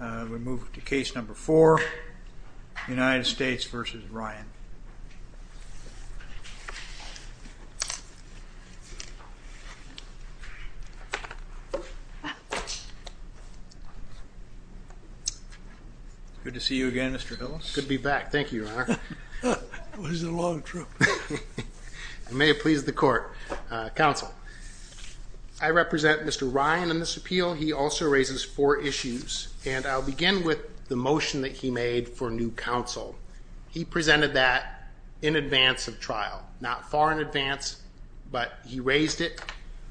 We move to case number four, United States v. Ryan. Good to see you again, Mr. Hillis. Good to be back. Thank you, Your Honor. It was a long trip. It may have pleased the court. I represent Mr. Ryan in this appeal. He also raises four issues, and I'll begin with the motion that he made for new counsel. He presented that in advance of trial, not far in advance, but he raised it,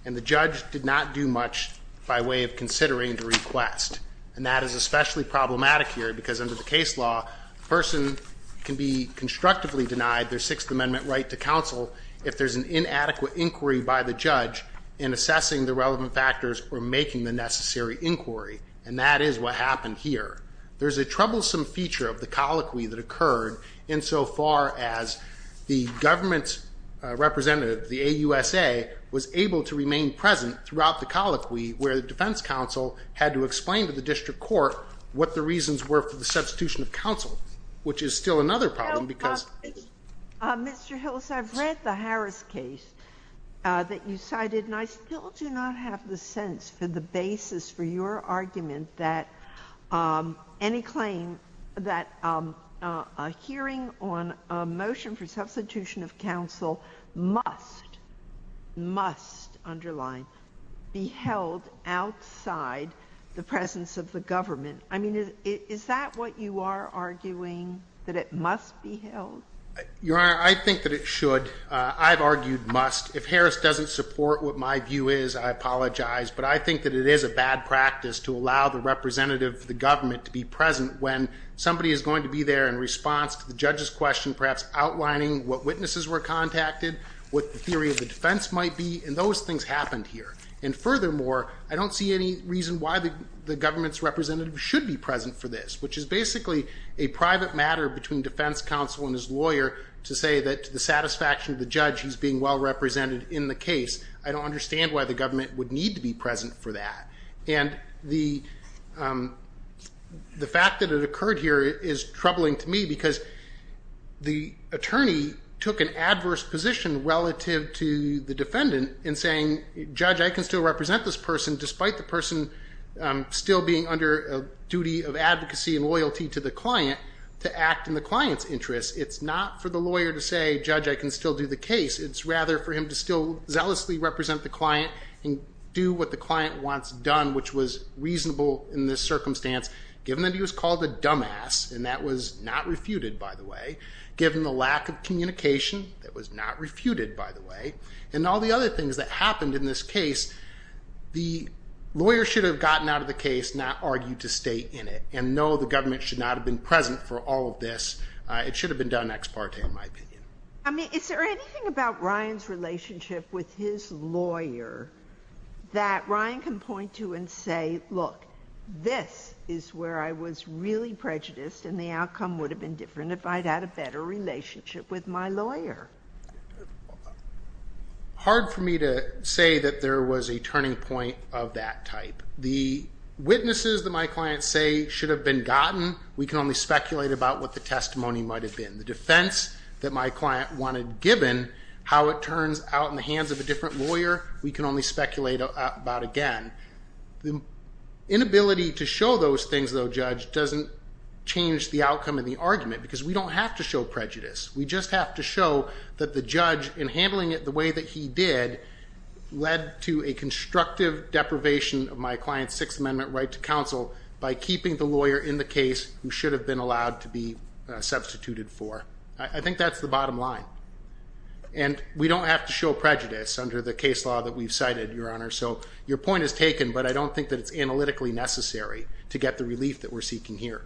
and the judge did not do much by way of considering the request, and that is especially problematic here because under the case law, a person can be constructively denied their Sixth Amendment right to counsel if there's an inadequate inquiry by the judge in assessing the relevant factors or making the necessary inquiry, and that is what happened here. There's a troublesome feature of the colloquy that occurred insofar as the government representative, the AUSA, was able to remain present throughout the colloquy where the defense counsel had to explain to the district court what the reasons were for the substitution of counsel, which is still another problem because Mr. Hillis, I've read the Harris case that you cited, and I still do not have the sense for the basis for your argument that any claim that a hearing on a motion for substitution of counsel must, must underline, be held outside the presence of the government. I mean, is that what you are arguing, that it must be held? Your Honor, I think that it should. I've argued must. If Harris doesn't support what my view is, I apologize, but I think that it is a bad practice to allow the representative of the government to be present when somebody is going to be there in response to the judge's question, perhaps outlining what witnesses were contacted, what the theory of the defense might be, and those things happened here. And furthermore, I don't see any reason why the government's representative should be present for this, which is basically a private matter between defense counsel and his lawyer to say that to the satisfaction of the judge, he's being well represented in the case. I don't understand why the government would need to be present for that. And the fact that it occurred here is troubling to me because the attorney took an adverse position relative to the defendant in saying, Judge, I can still represent this person despite the person still being under a duty of advocacy and loyalty to the client to act in the client's interest. It's not for the lawyer to say, Judge, I can still do the case. It's rather for him to still zealously represent the client and do what the client wants done, which was reasonable in this circumstance, given that he was called a dumbass, and that was not refuted, by the way, given the lack of communication, that was not refuted, by the way, and all the other things that happened in this case. The lawyer should have gotten out of the case, not argued to stay in it, and no, the government should not have been present for all of this. It should have been done ex parte, in my opinion. I mean, is there anything about Ryan's relationship with his lawyer that Ryan can point to and say, Look, this is where I was really prejudiced and the outcome would have been different if I'd had a better relationship with my lawyer? Hard for me to say that there was a turning point of that type. The witnesses that my clients say should have been gotten, we can only speculate about what the testimony might have been. The defense that my client wanted given, how it turns out in the hands of a different lawyer, we can only speculate about again. The inability to show those things, though, Judge, doesn't change the outcome of the argument because we don't have to show prejudice. We just have to show that the judge, in handling it the way that he did, led to a constructive deprivation of my client's Sixth Amendment right to counsel by keeping the lawyer in the case who should have been allowed to be substituted for. I think that's the bottom line. And we don't have to show prejudice under the case law that we've cited, Your Honor, so your point is taken, but I don't think that it's analytically necessary to get the relief that we're seeking here.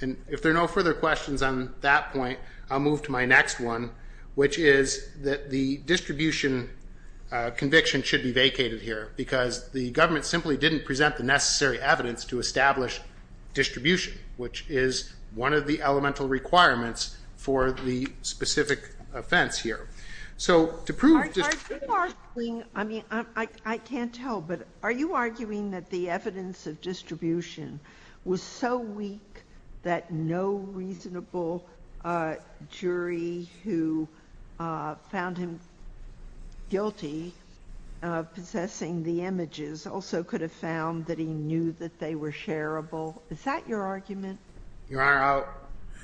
And if there are no further questions on that point, I'll move to my next one, which is that the distribution conviction should be vacated here because the government simply didn't present the necessary evidence to establish distribution, which is one of the elemental requirements for the specific offense here. So to prove just... Are you arguing, I mean, I can't tell, but are you arguing that the evidence of distribution was so weak that no reasonable jury who found him guilty of possessing the images also could have found that he knew that they were shareable? Is that your argument? Your Honor, I'll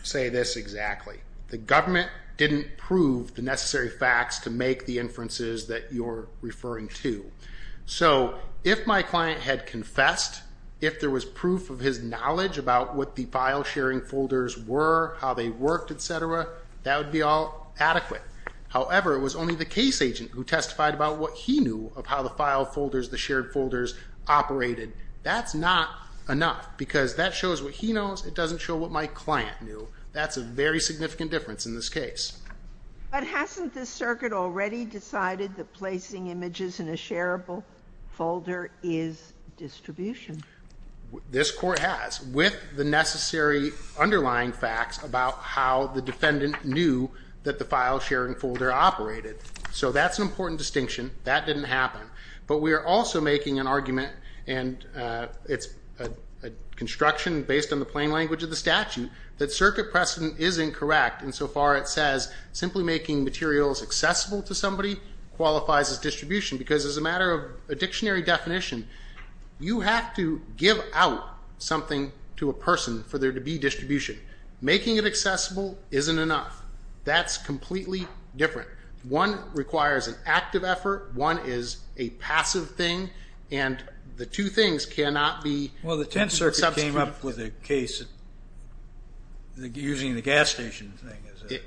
say this exactly. The government didn't prove the necessary facts to make the inferences that you're referring to. So if my client had confessed, if there was proof of his knowledge about what the file-sharing folders were, how they worked, et cetera, that would be all adequate. However, it was only the case agent who testified about what he knew of how the file folders, the shared folders, operated. That's not enough because that shows what he knows. It doesn't show what my client knew. That's a very significant difference in this case. But hasn't the circuit already decided that placing images in a shareable folder is distribution? This Court has, with the necessary underlying facts about how the defendant knew that the file-sharing folder operated. So that's an important distinction. That didn't happen. But we are also making an argument, and it's a construction based on the plain language of the statute, that circuit precedent is incorrect insofar it says simply making materials accessible to somebody qualifies as distribution because as a matter of a dictionary definition, you have to give out something to a person for there to be distribution. Making it accessible isn't enough. That's completely different. One requires an active effort, one is a passive thing, and the two things cannot be substituted. Well, the Tenth Circuit came up with a case using the gas station thing.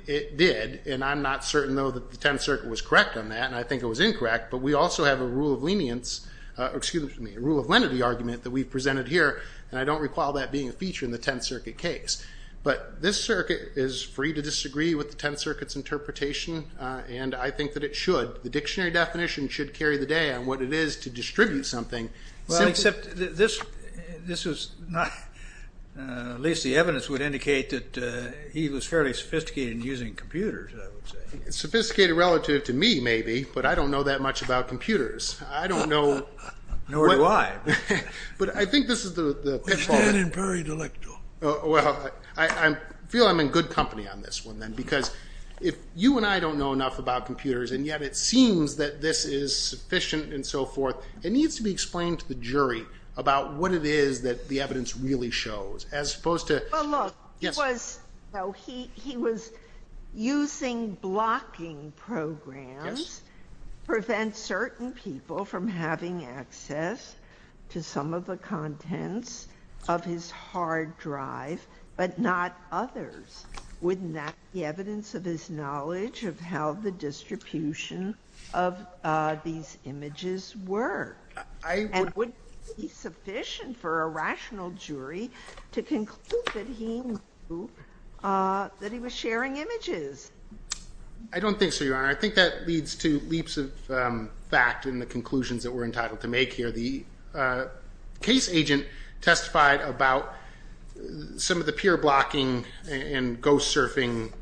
It did, and I'm not certain, though, that the Tenth Circuit was correct on that, and I think it was incorrect, but we also have a rule of leniency, excuse me, a rule of lenity argument that we've presented here, and I don't recall that being a feature in the Tenth Circuit case. But this circuit is free to disagree with the Tenth Circuit's interpretation, and I think that it should. The dictionary definition should carry the day on what it is to distribute something. Except this was not, at least the evidence would indicate that he was fairly sophisticated in using computers, I would say. Sophisticated relative to me, maybe, but I don't know that much about computers. I don't know. Nor do I. But I think this is the pitfall. We stand in buried electro. Well, I feel I'm in good company on this one then because if you and I don't know enough about computers and yet it seems that this is sufficient and so forth, it needs to be explained to the jury about what it is that the evidence really shows as opposed to... Well, look, he was using blocking programs to prevent certain people from having access to some of the contents of his hard drive, but not others. Wouldn't that be evidence of his knowledge of how the distribution of these images were? And wouldn't it be sufficient for a rational jury to conclude that he was sharing images? I don't think so, Your Honor. I think that leads to leaps of fact in the conclusions that we're entitled to make here. The case agent testified about some of the peer blocking and ghost surfing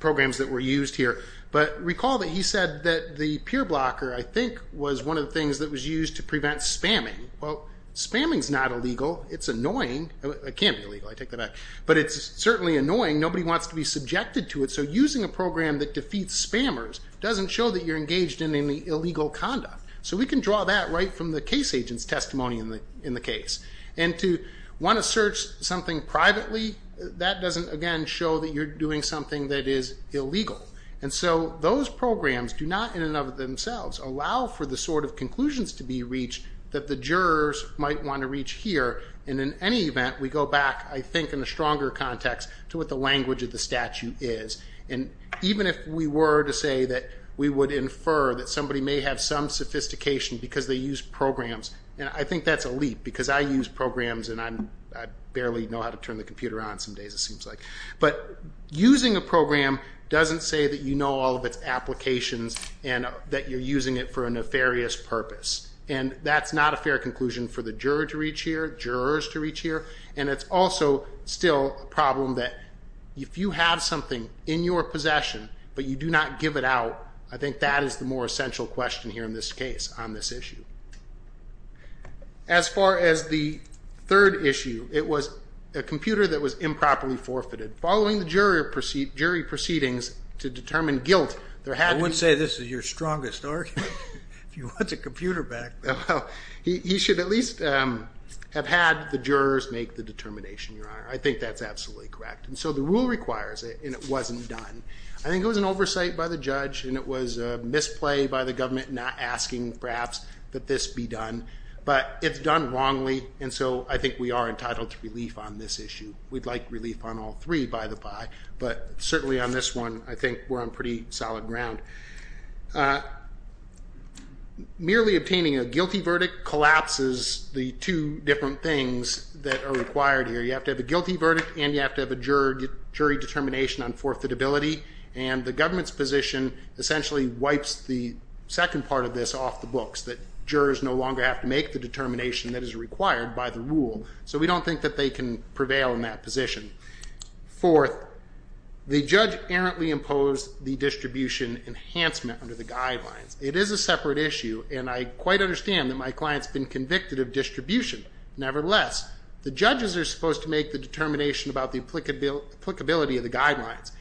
programs that were used here. But recall that he said that the peer blocker, I think, was one of the things that was used to prevent spamming. Well, spamming is not illegal. It's annoying. It can't be illegal. I take that back. But it's certainly annoying. Nobody wants to be subjected to it. So using a program that defeats spammers doesn't show that you're engaged in any illegal conduct. So we can draw that right from the case agent's testimony in the case. And to want to search something privately, that doesn't, again, show that you're doing something that is illegal. And so those programs do not in and of themselves allow for the sort of conclusions to be reached that the jurors might want to reach here. And in any event, we go back, I think, in a stronger context to what the language of the statute is. And even if we were to say that we would infer that somebody may have some sophistication because they use programs, I think that's a leap because I use programs and I barely know how to turn the computer on some days, it seems like. But using a program doesn't say that you know all of its applications and that you're using it for a nefarious purpose. And that's not a fair conclusion for the juror to reach here, jurors to reach here. And it's also still a problem that if you have something in your possession but you do not give it out, I think that is the more essential question here in this case on this issue. As far as the third issue, it was a computer that was improperly forfeited. Following the jury proceedings to determine guilt, there had to be... I would say this is your strongest argument. If you want the computer back. He should at least have had the jurors make the determination, Your Honor. I think that's absolutely correct. And so the rule requires it and it wasn't done. I think it was an oversight by the judge and it was a misplay by the government not asking, perhaps, that this be done. But it's done wrongly and so I think we are entitled to relief on this issue. We'd like relief on all three, by the by. But certainly on this one, I think we're on pretty solid ground. Merely obtaining a guilty verdict collapses the two different things that are required here. You have to have a guilty verdict and you have to have a jury determination on forfeitability. And the government's position essentially wipes the second part of this off the books, that jurors no longer have to make the determination that is required by the rule. So we don't think that they can prevail in that position. Fourth, the judge errantly imposed the distribution enhancement under the guidelines. It is a separate issue and I quite understand that my client's been convicted of distribution. Nevertheless, the judges are supposed to make the determination about the applicability of the guidelines.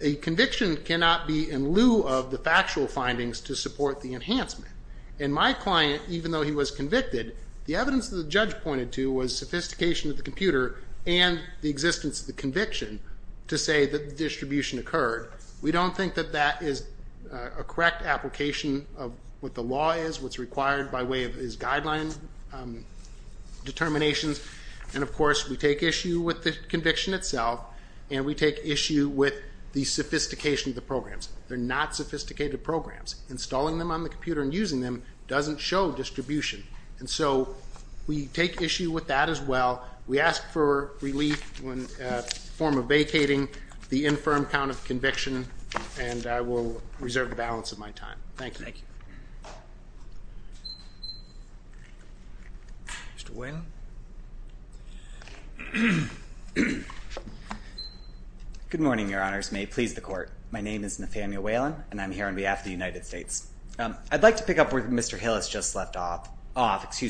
A conviction cannot be in lieu of the factual findings to support the enhancement. And my client, even though he was convicted, the evidence that the judge pointed to was sophistication of the computer and the existence of the conviction to say that the distribution occurred. We don't think that that is a correct application of what the law is, what's required by way of his guideline determinations. And, of course, we take issue with the conviction itself and we take issue with the sophistication of the programs. They're not sophisticated programs. Installing them on the computer and using them doesn't show distribution. And so we take issue with that as well. We ask for relief in the form of vacating the infirm count of conviction and I will reserve the balance of my time. Thank you. Mr. Whalen. Good morning, Your Honors. May it please the Court. My name is Nathaniel Whalen and I'm here on behalf of the United States. I'd like to pick up where Mr. Hillis just left off,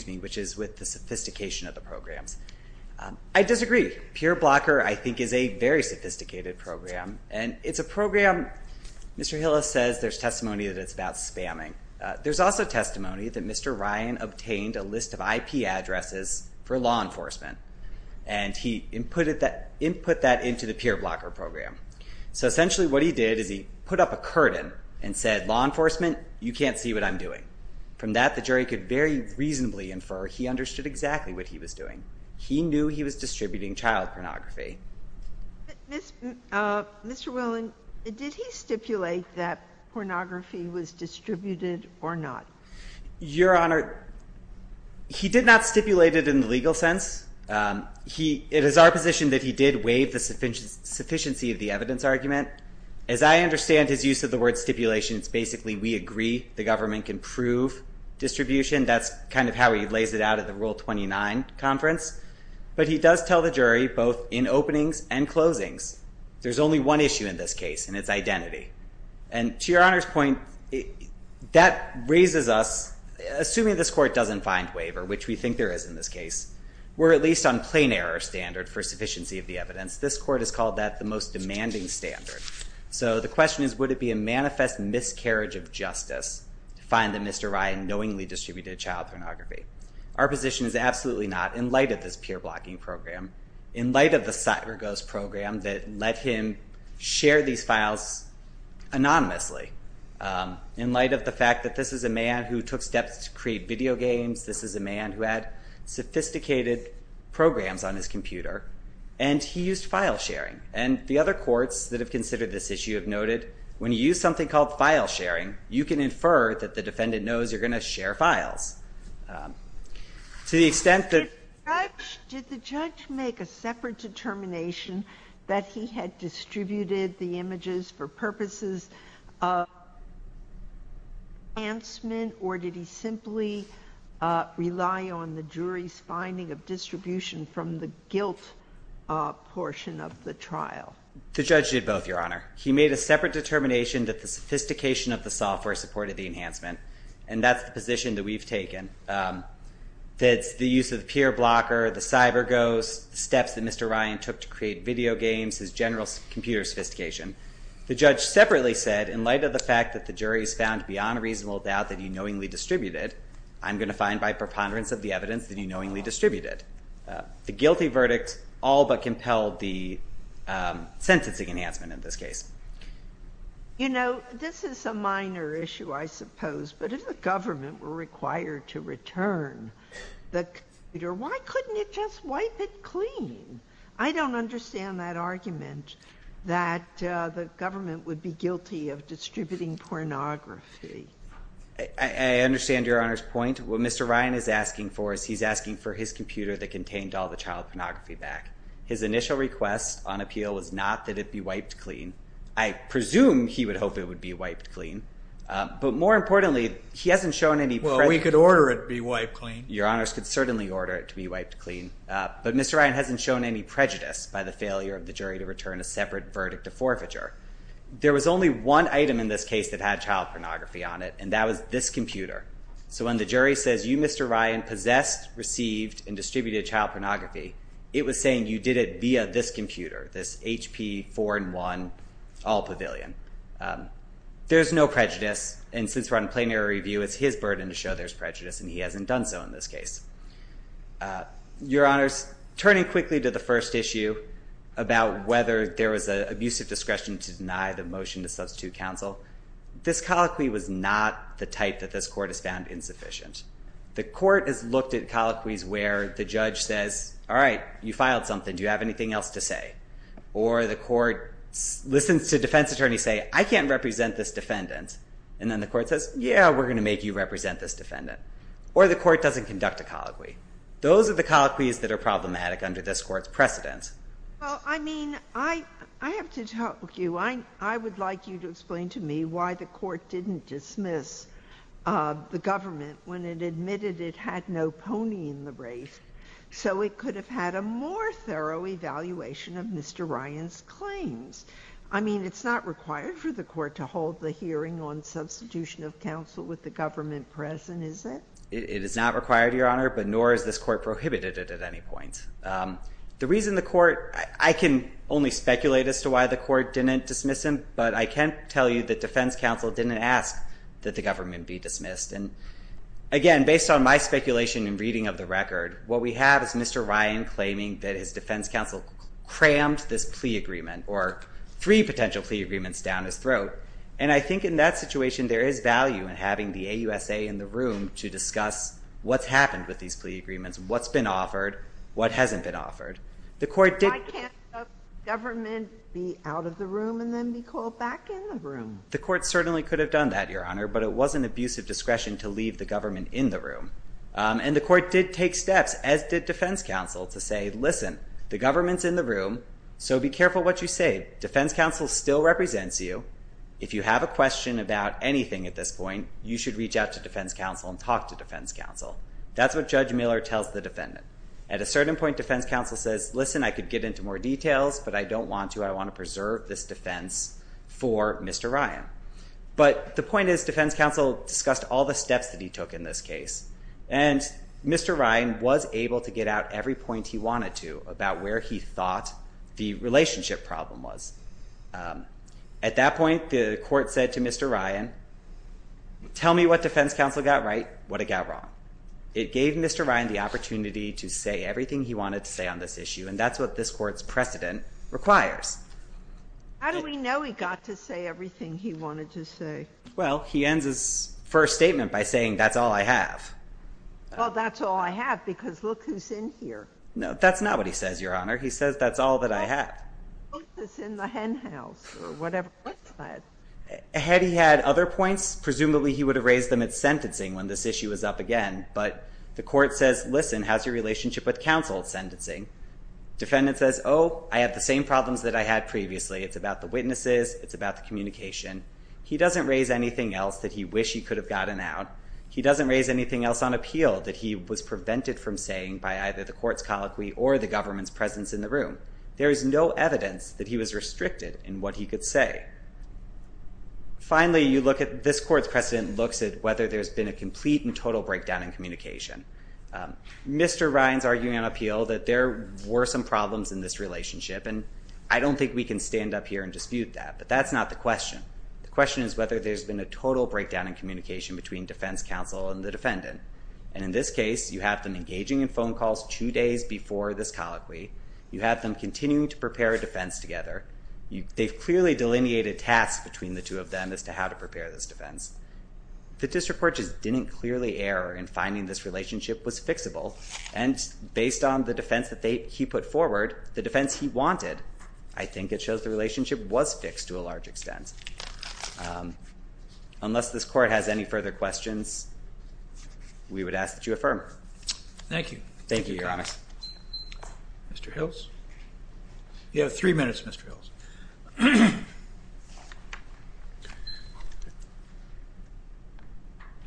which is with the sophistication of the programs. I disagree. PeerBlocker, I think, is a very sophisticated program. And it's a program, Mr. Hillis says, there's testimony that it's about spamming. There's also testimony that Mr. Ryan obtained a list of IP addresses for law enforcement and he input that into the PeerBlocker program. So essentially what he did is he put up a curtain and said, law enforcement, you can't see what I'm doing. From that, the jury could very reasonably infer he understood exactly what he was doing. He knew he was distributing child pornography. Mr. Whalen, did he stipulate that pornography was distributed or not? Your Honor, he did not stipulate it in the legal sense. It is our position that he did waive the sufficiency of the evidence argument. As I understand his use of the word stipulation, it's basically we agree the government can prove distribution. That's kind of how he lays it out at the Rule 29 conference. But he does tell the jury both in openings and closings, there's only one issue in this case, and it's identity. And to Your Honor's point, that raises us, assuming this Court doesn't find waiver, which we think there is in this case, we're at least on plain error standard for sufficiency of the evidence. This Court has called that the most demanding standard. So the question is, would it be a manifest miscarriage of justice to find that Mr. Ryan knowingly distributed child pornography? Our position is absolutely not in light of this peer blocking program, in light of the CyberGhost program that let him share these files anonymously, in light of the fact that this is a man who took steps to create video games, this is a man who had sophisticated programs on his computer, and he used file sharing. And the other courts that have considered this issue have noted, when you use something called file sharing, you can infer that the defendant knows you're going to share files. To the extent that the judge made a separate determination that he had distributed the images for purposes of enhancement, or did he simply rely on the jury's finding of distribution from the guilt portion of the trial? The judge did both, Your Honor. He made a separate determination that the sophistication of the software supported the enhancement, and that's the position that we've taken, that the use of the peer blocker, the CyberGhost, the steps that Mr. Ryan took to create video games, his general computer sophistication. The judge separately said, in light of the fact that the jury's found beyond a reasonable doubt that he knowingly distributed, I'm going to find by preponderance of the evidence that he knowingly distributed. The guilty verdict all but compelled the sentencing enhancement in this case. You know, this is a minor issue, I suppose, but if the government were required to return the computer, why couldn't it just wipe it clean? I don't understand that argument that the government would be guilty of distributing pornography. I understand Your Honor's point. What Mr. Ryan is asking for is he's asking for his computer that contained all the child pornography back. His initial request on appeal was not that it be wiped clean. I presume he would hope it would be wiped clean, but more importantly, he hasn't shown any prejudice. Well, we could order it be wiped clean. Your Honors could certainly order it to be wiped clean, but Mr. Ryan hasn't shown any prejudice by the failure of the jury to return a separate verdict of forfeiture. There was only one item in this case that had child pornography on it, and that was this computer. So when the jury says, you, Mr. Ryan, possessed, received, and distributed child pornography, it was saying you did it via this computer, this HP 4-in-1 All Pavilion. There's no prejudice, and since we're on plenary review, it's his burden to show there's prejudice, and he hasn't done so in this case. Your Honors, turning quickly to the first issue about whether there was an abusive discretion to deny the motion to substitute counsel, this colloquy was not the type that this court has found insufficient. The court has looked at colloquies where the judge says, all right, you filed something. Do you have anything else to say? Or the court listens to defense attorneys say, I can't represent this defendant, and then the court says, yeah, we're going to make you represent this defendant. Or the court doesn't conduct a colloquy. Those are the colloquies that are problematic under this court's precedents. Well, I mean, I have to talk to you. I would like you to explain to me why the court didn't dismiss the government when it admitted it had no pony in the race So it could have had a more thorough evaluation of Mr. Ryan's claims. I mean, it's not required for the court to hold the hearing on substitution of counsel with the government present, is it? It is not required, Your Honor, but nor has this court prohibited it at any point. The reason the court – I can only speculate as to why the court didn't dismiss him, but I can tell you that defense counsel didn't ask that the government be dismissed. And again, based on my speculation and reading of the record, what we have is Mr. Ryan claiming that his defense counsel crammed this plea agreement or three potential plea agreements down his throat. And I think in that situation there is value in having the AUSA in the room to discuss what's happened with these plea agreements, what's been offered, what hasn't been offered. Why can't the government be out of the room and then be called back in the room? The court certainly could have done that, Your Honor, but it was an abuse of discretion to leave the government in the room. And the court did take steps, as did defense counsel, to say, listen, the government's in the room, so be careful what you say. Defense counsel still represents you. If you have a question about anything at this point, you should reach out to defense counsel and talk to defense counsel. That's what Judge Miller tells the defendant. At a certain point, defense counsel says, listen, I could get into more details, but I don't want to. I want to preserve this defense for Mr. Ryan. But the point is defense counsel discussed all the steps that he took in this case, and Mr. Ryan was able to get out every point he wanted to about where he thought the relationship problem was. At that point, the court said to Mr. Ryan, tell me what defense counsel got right, what it got wrong. It gave Mr. Ryan the opportunity to say everything he wanted to say on this issue, and that's what this court's precedent requires. How do we know he got to say everything he wanted to say? Well, he ends his first statement by saying, that's all I have. Well, that's all I have, because look who's in here. No, that's not what he says, Your Honor. He says, that's all that I have. Look who's in the hen house, or whatever. Had he had other points, presumably he would have raised them at sentencing when this issue was up again. But the court says, listen, how's your relationship with counsel at sentencing? Defendant says, oh, I have the same problems that I had previously. It's about the witnesses. It's about the communication. He doesn't raise anything else that he wished he could have gotten out. He doesn't raise anything else on appeal that he was prevented from saying by either the court's colloquy or the government's presence in the room. There is no evidence that he was restricted in what he could say. Finally, this court's precedent looks at whether there's been a complete and total breakdown in communication. Mr. Ryan's arguing on appeal that there were some problems in this relationship. And I don't think we can stand up here and dispute that. But that's not the question. The question is whether there's been a total breakdown in communication between defense counsel and the defendant. And in this case, you have them engaging in phone calls two days before this colloquy. You have them continuing to prepare a defense together. They've clearly delineated tasks between the two of them as to how to prepare this defense. The district court just didn't clearly err in finding this relationship was fixable. And based on the defense that he put forward, the defense he wanted, I think it shows the relationship was fixed to a large extent. Unless this court has any further questions, we would ask that you affirm. Thank you. Thank you, Your Honor. Mr. Hills? You have three minutes, Mr. Hills.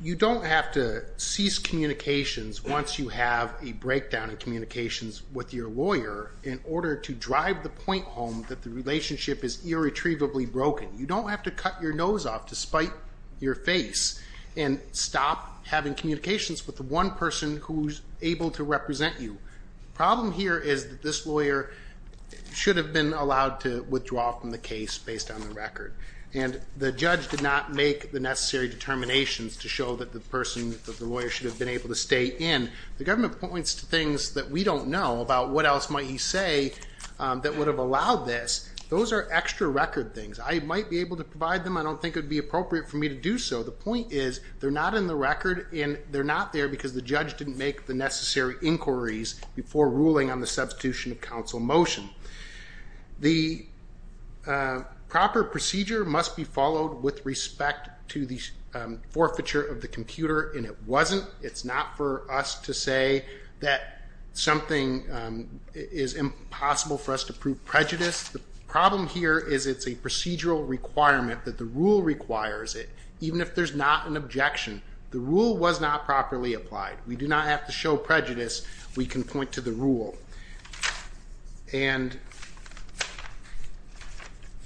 You don't have to cease communications once you have a breakdown in communications with your lawyer in order to drive the point home that the relationship is irretrievably broken. You don't have to cut your nose off to spite your face and stop having communications with the one person who's able to represent you. The problem here is that this lawyer should have been allowed to withdraw from the case based on the record. And the judge did not make the necessary determinations to show that the person, the lawyer, should have been able to stay in. The government points to things that we don't know about what else might he say that would have allowed this. Those are extra record things. I might be able to provide them. I don't think it would be appropriate for me to do so. The point is, they're not in the record, and they're not there because the judge didn't make the necessary inquiries before ruling on the substitution of counsel motion. The proper procedure must be followed with respect to the forfeiture of the computer, and it wasn't. It's not for us to say that something is impossible for us to prove prejudice. The problem here is it's a procedural requirement that the rule requires it, even if there's not an objection. The rule was not properly applied. We do not have to show prejudice. We can point to the rule. And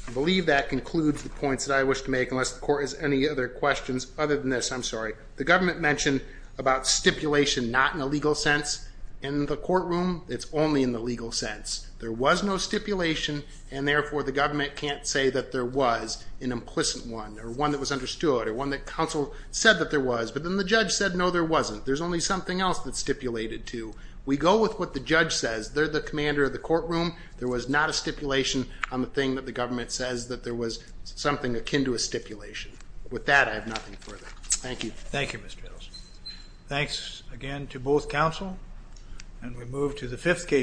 I believe that concludes the points that I wish to make, unless the court has any other questions other than this. I'm sorry. The government mentioned about stipulation not in a legal sense. In the courtroom, it's only in the legal sense. There was no stipulation, and therefore the government can't say that there was an implicit one or one that was understood or one that counsel said that there was. But then the judge said, no, there wasn't. There's only something else that's stipulated to. We go with what the judge says. They're the commander of the courtroom. There was not a stipulation on the thing that the government says that there was something akin to a stipulation. With that, I have nothing further. Thank you. Thank you, Mr. Edelson. Thanks again to both counsel. And we move to the fifth case.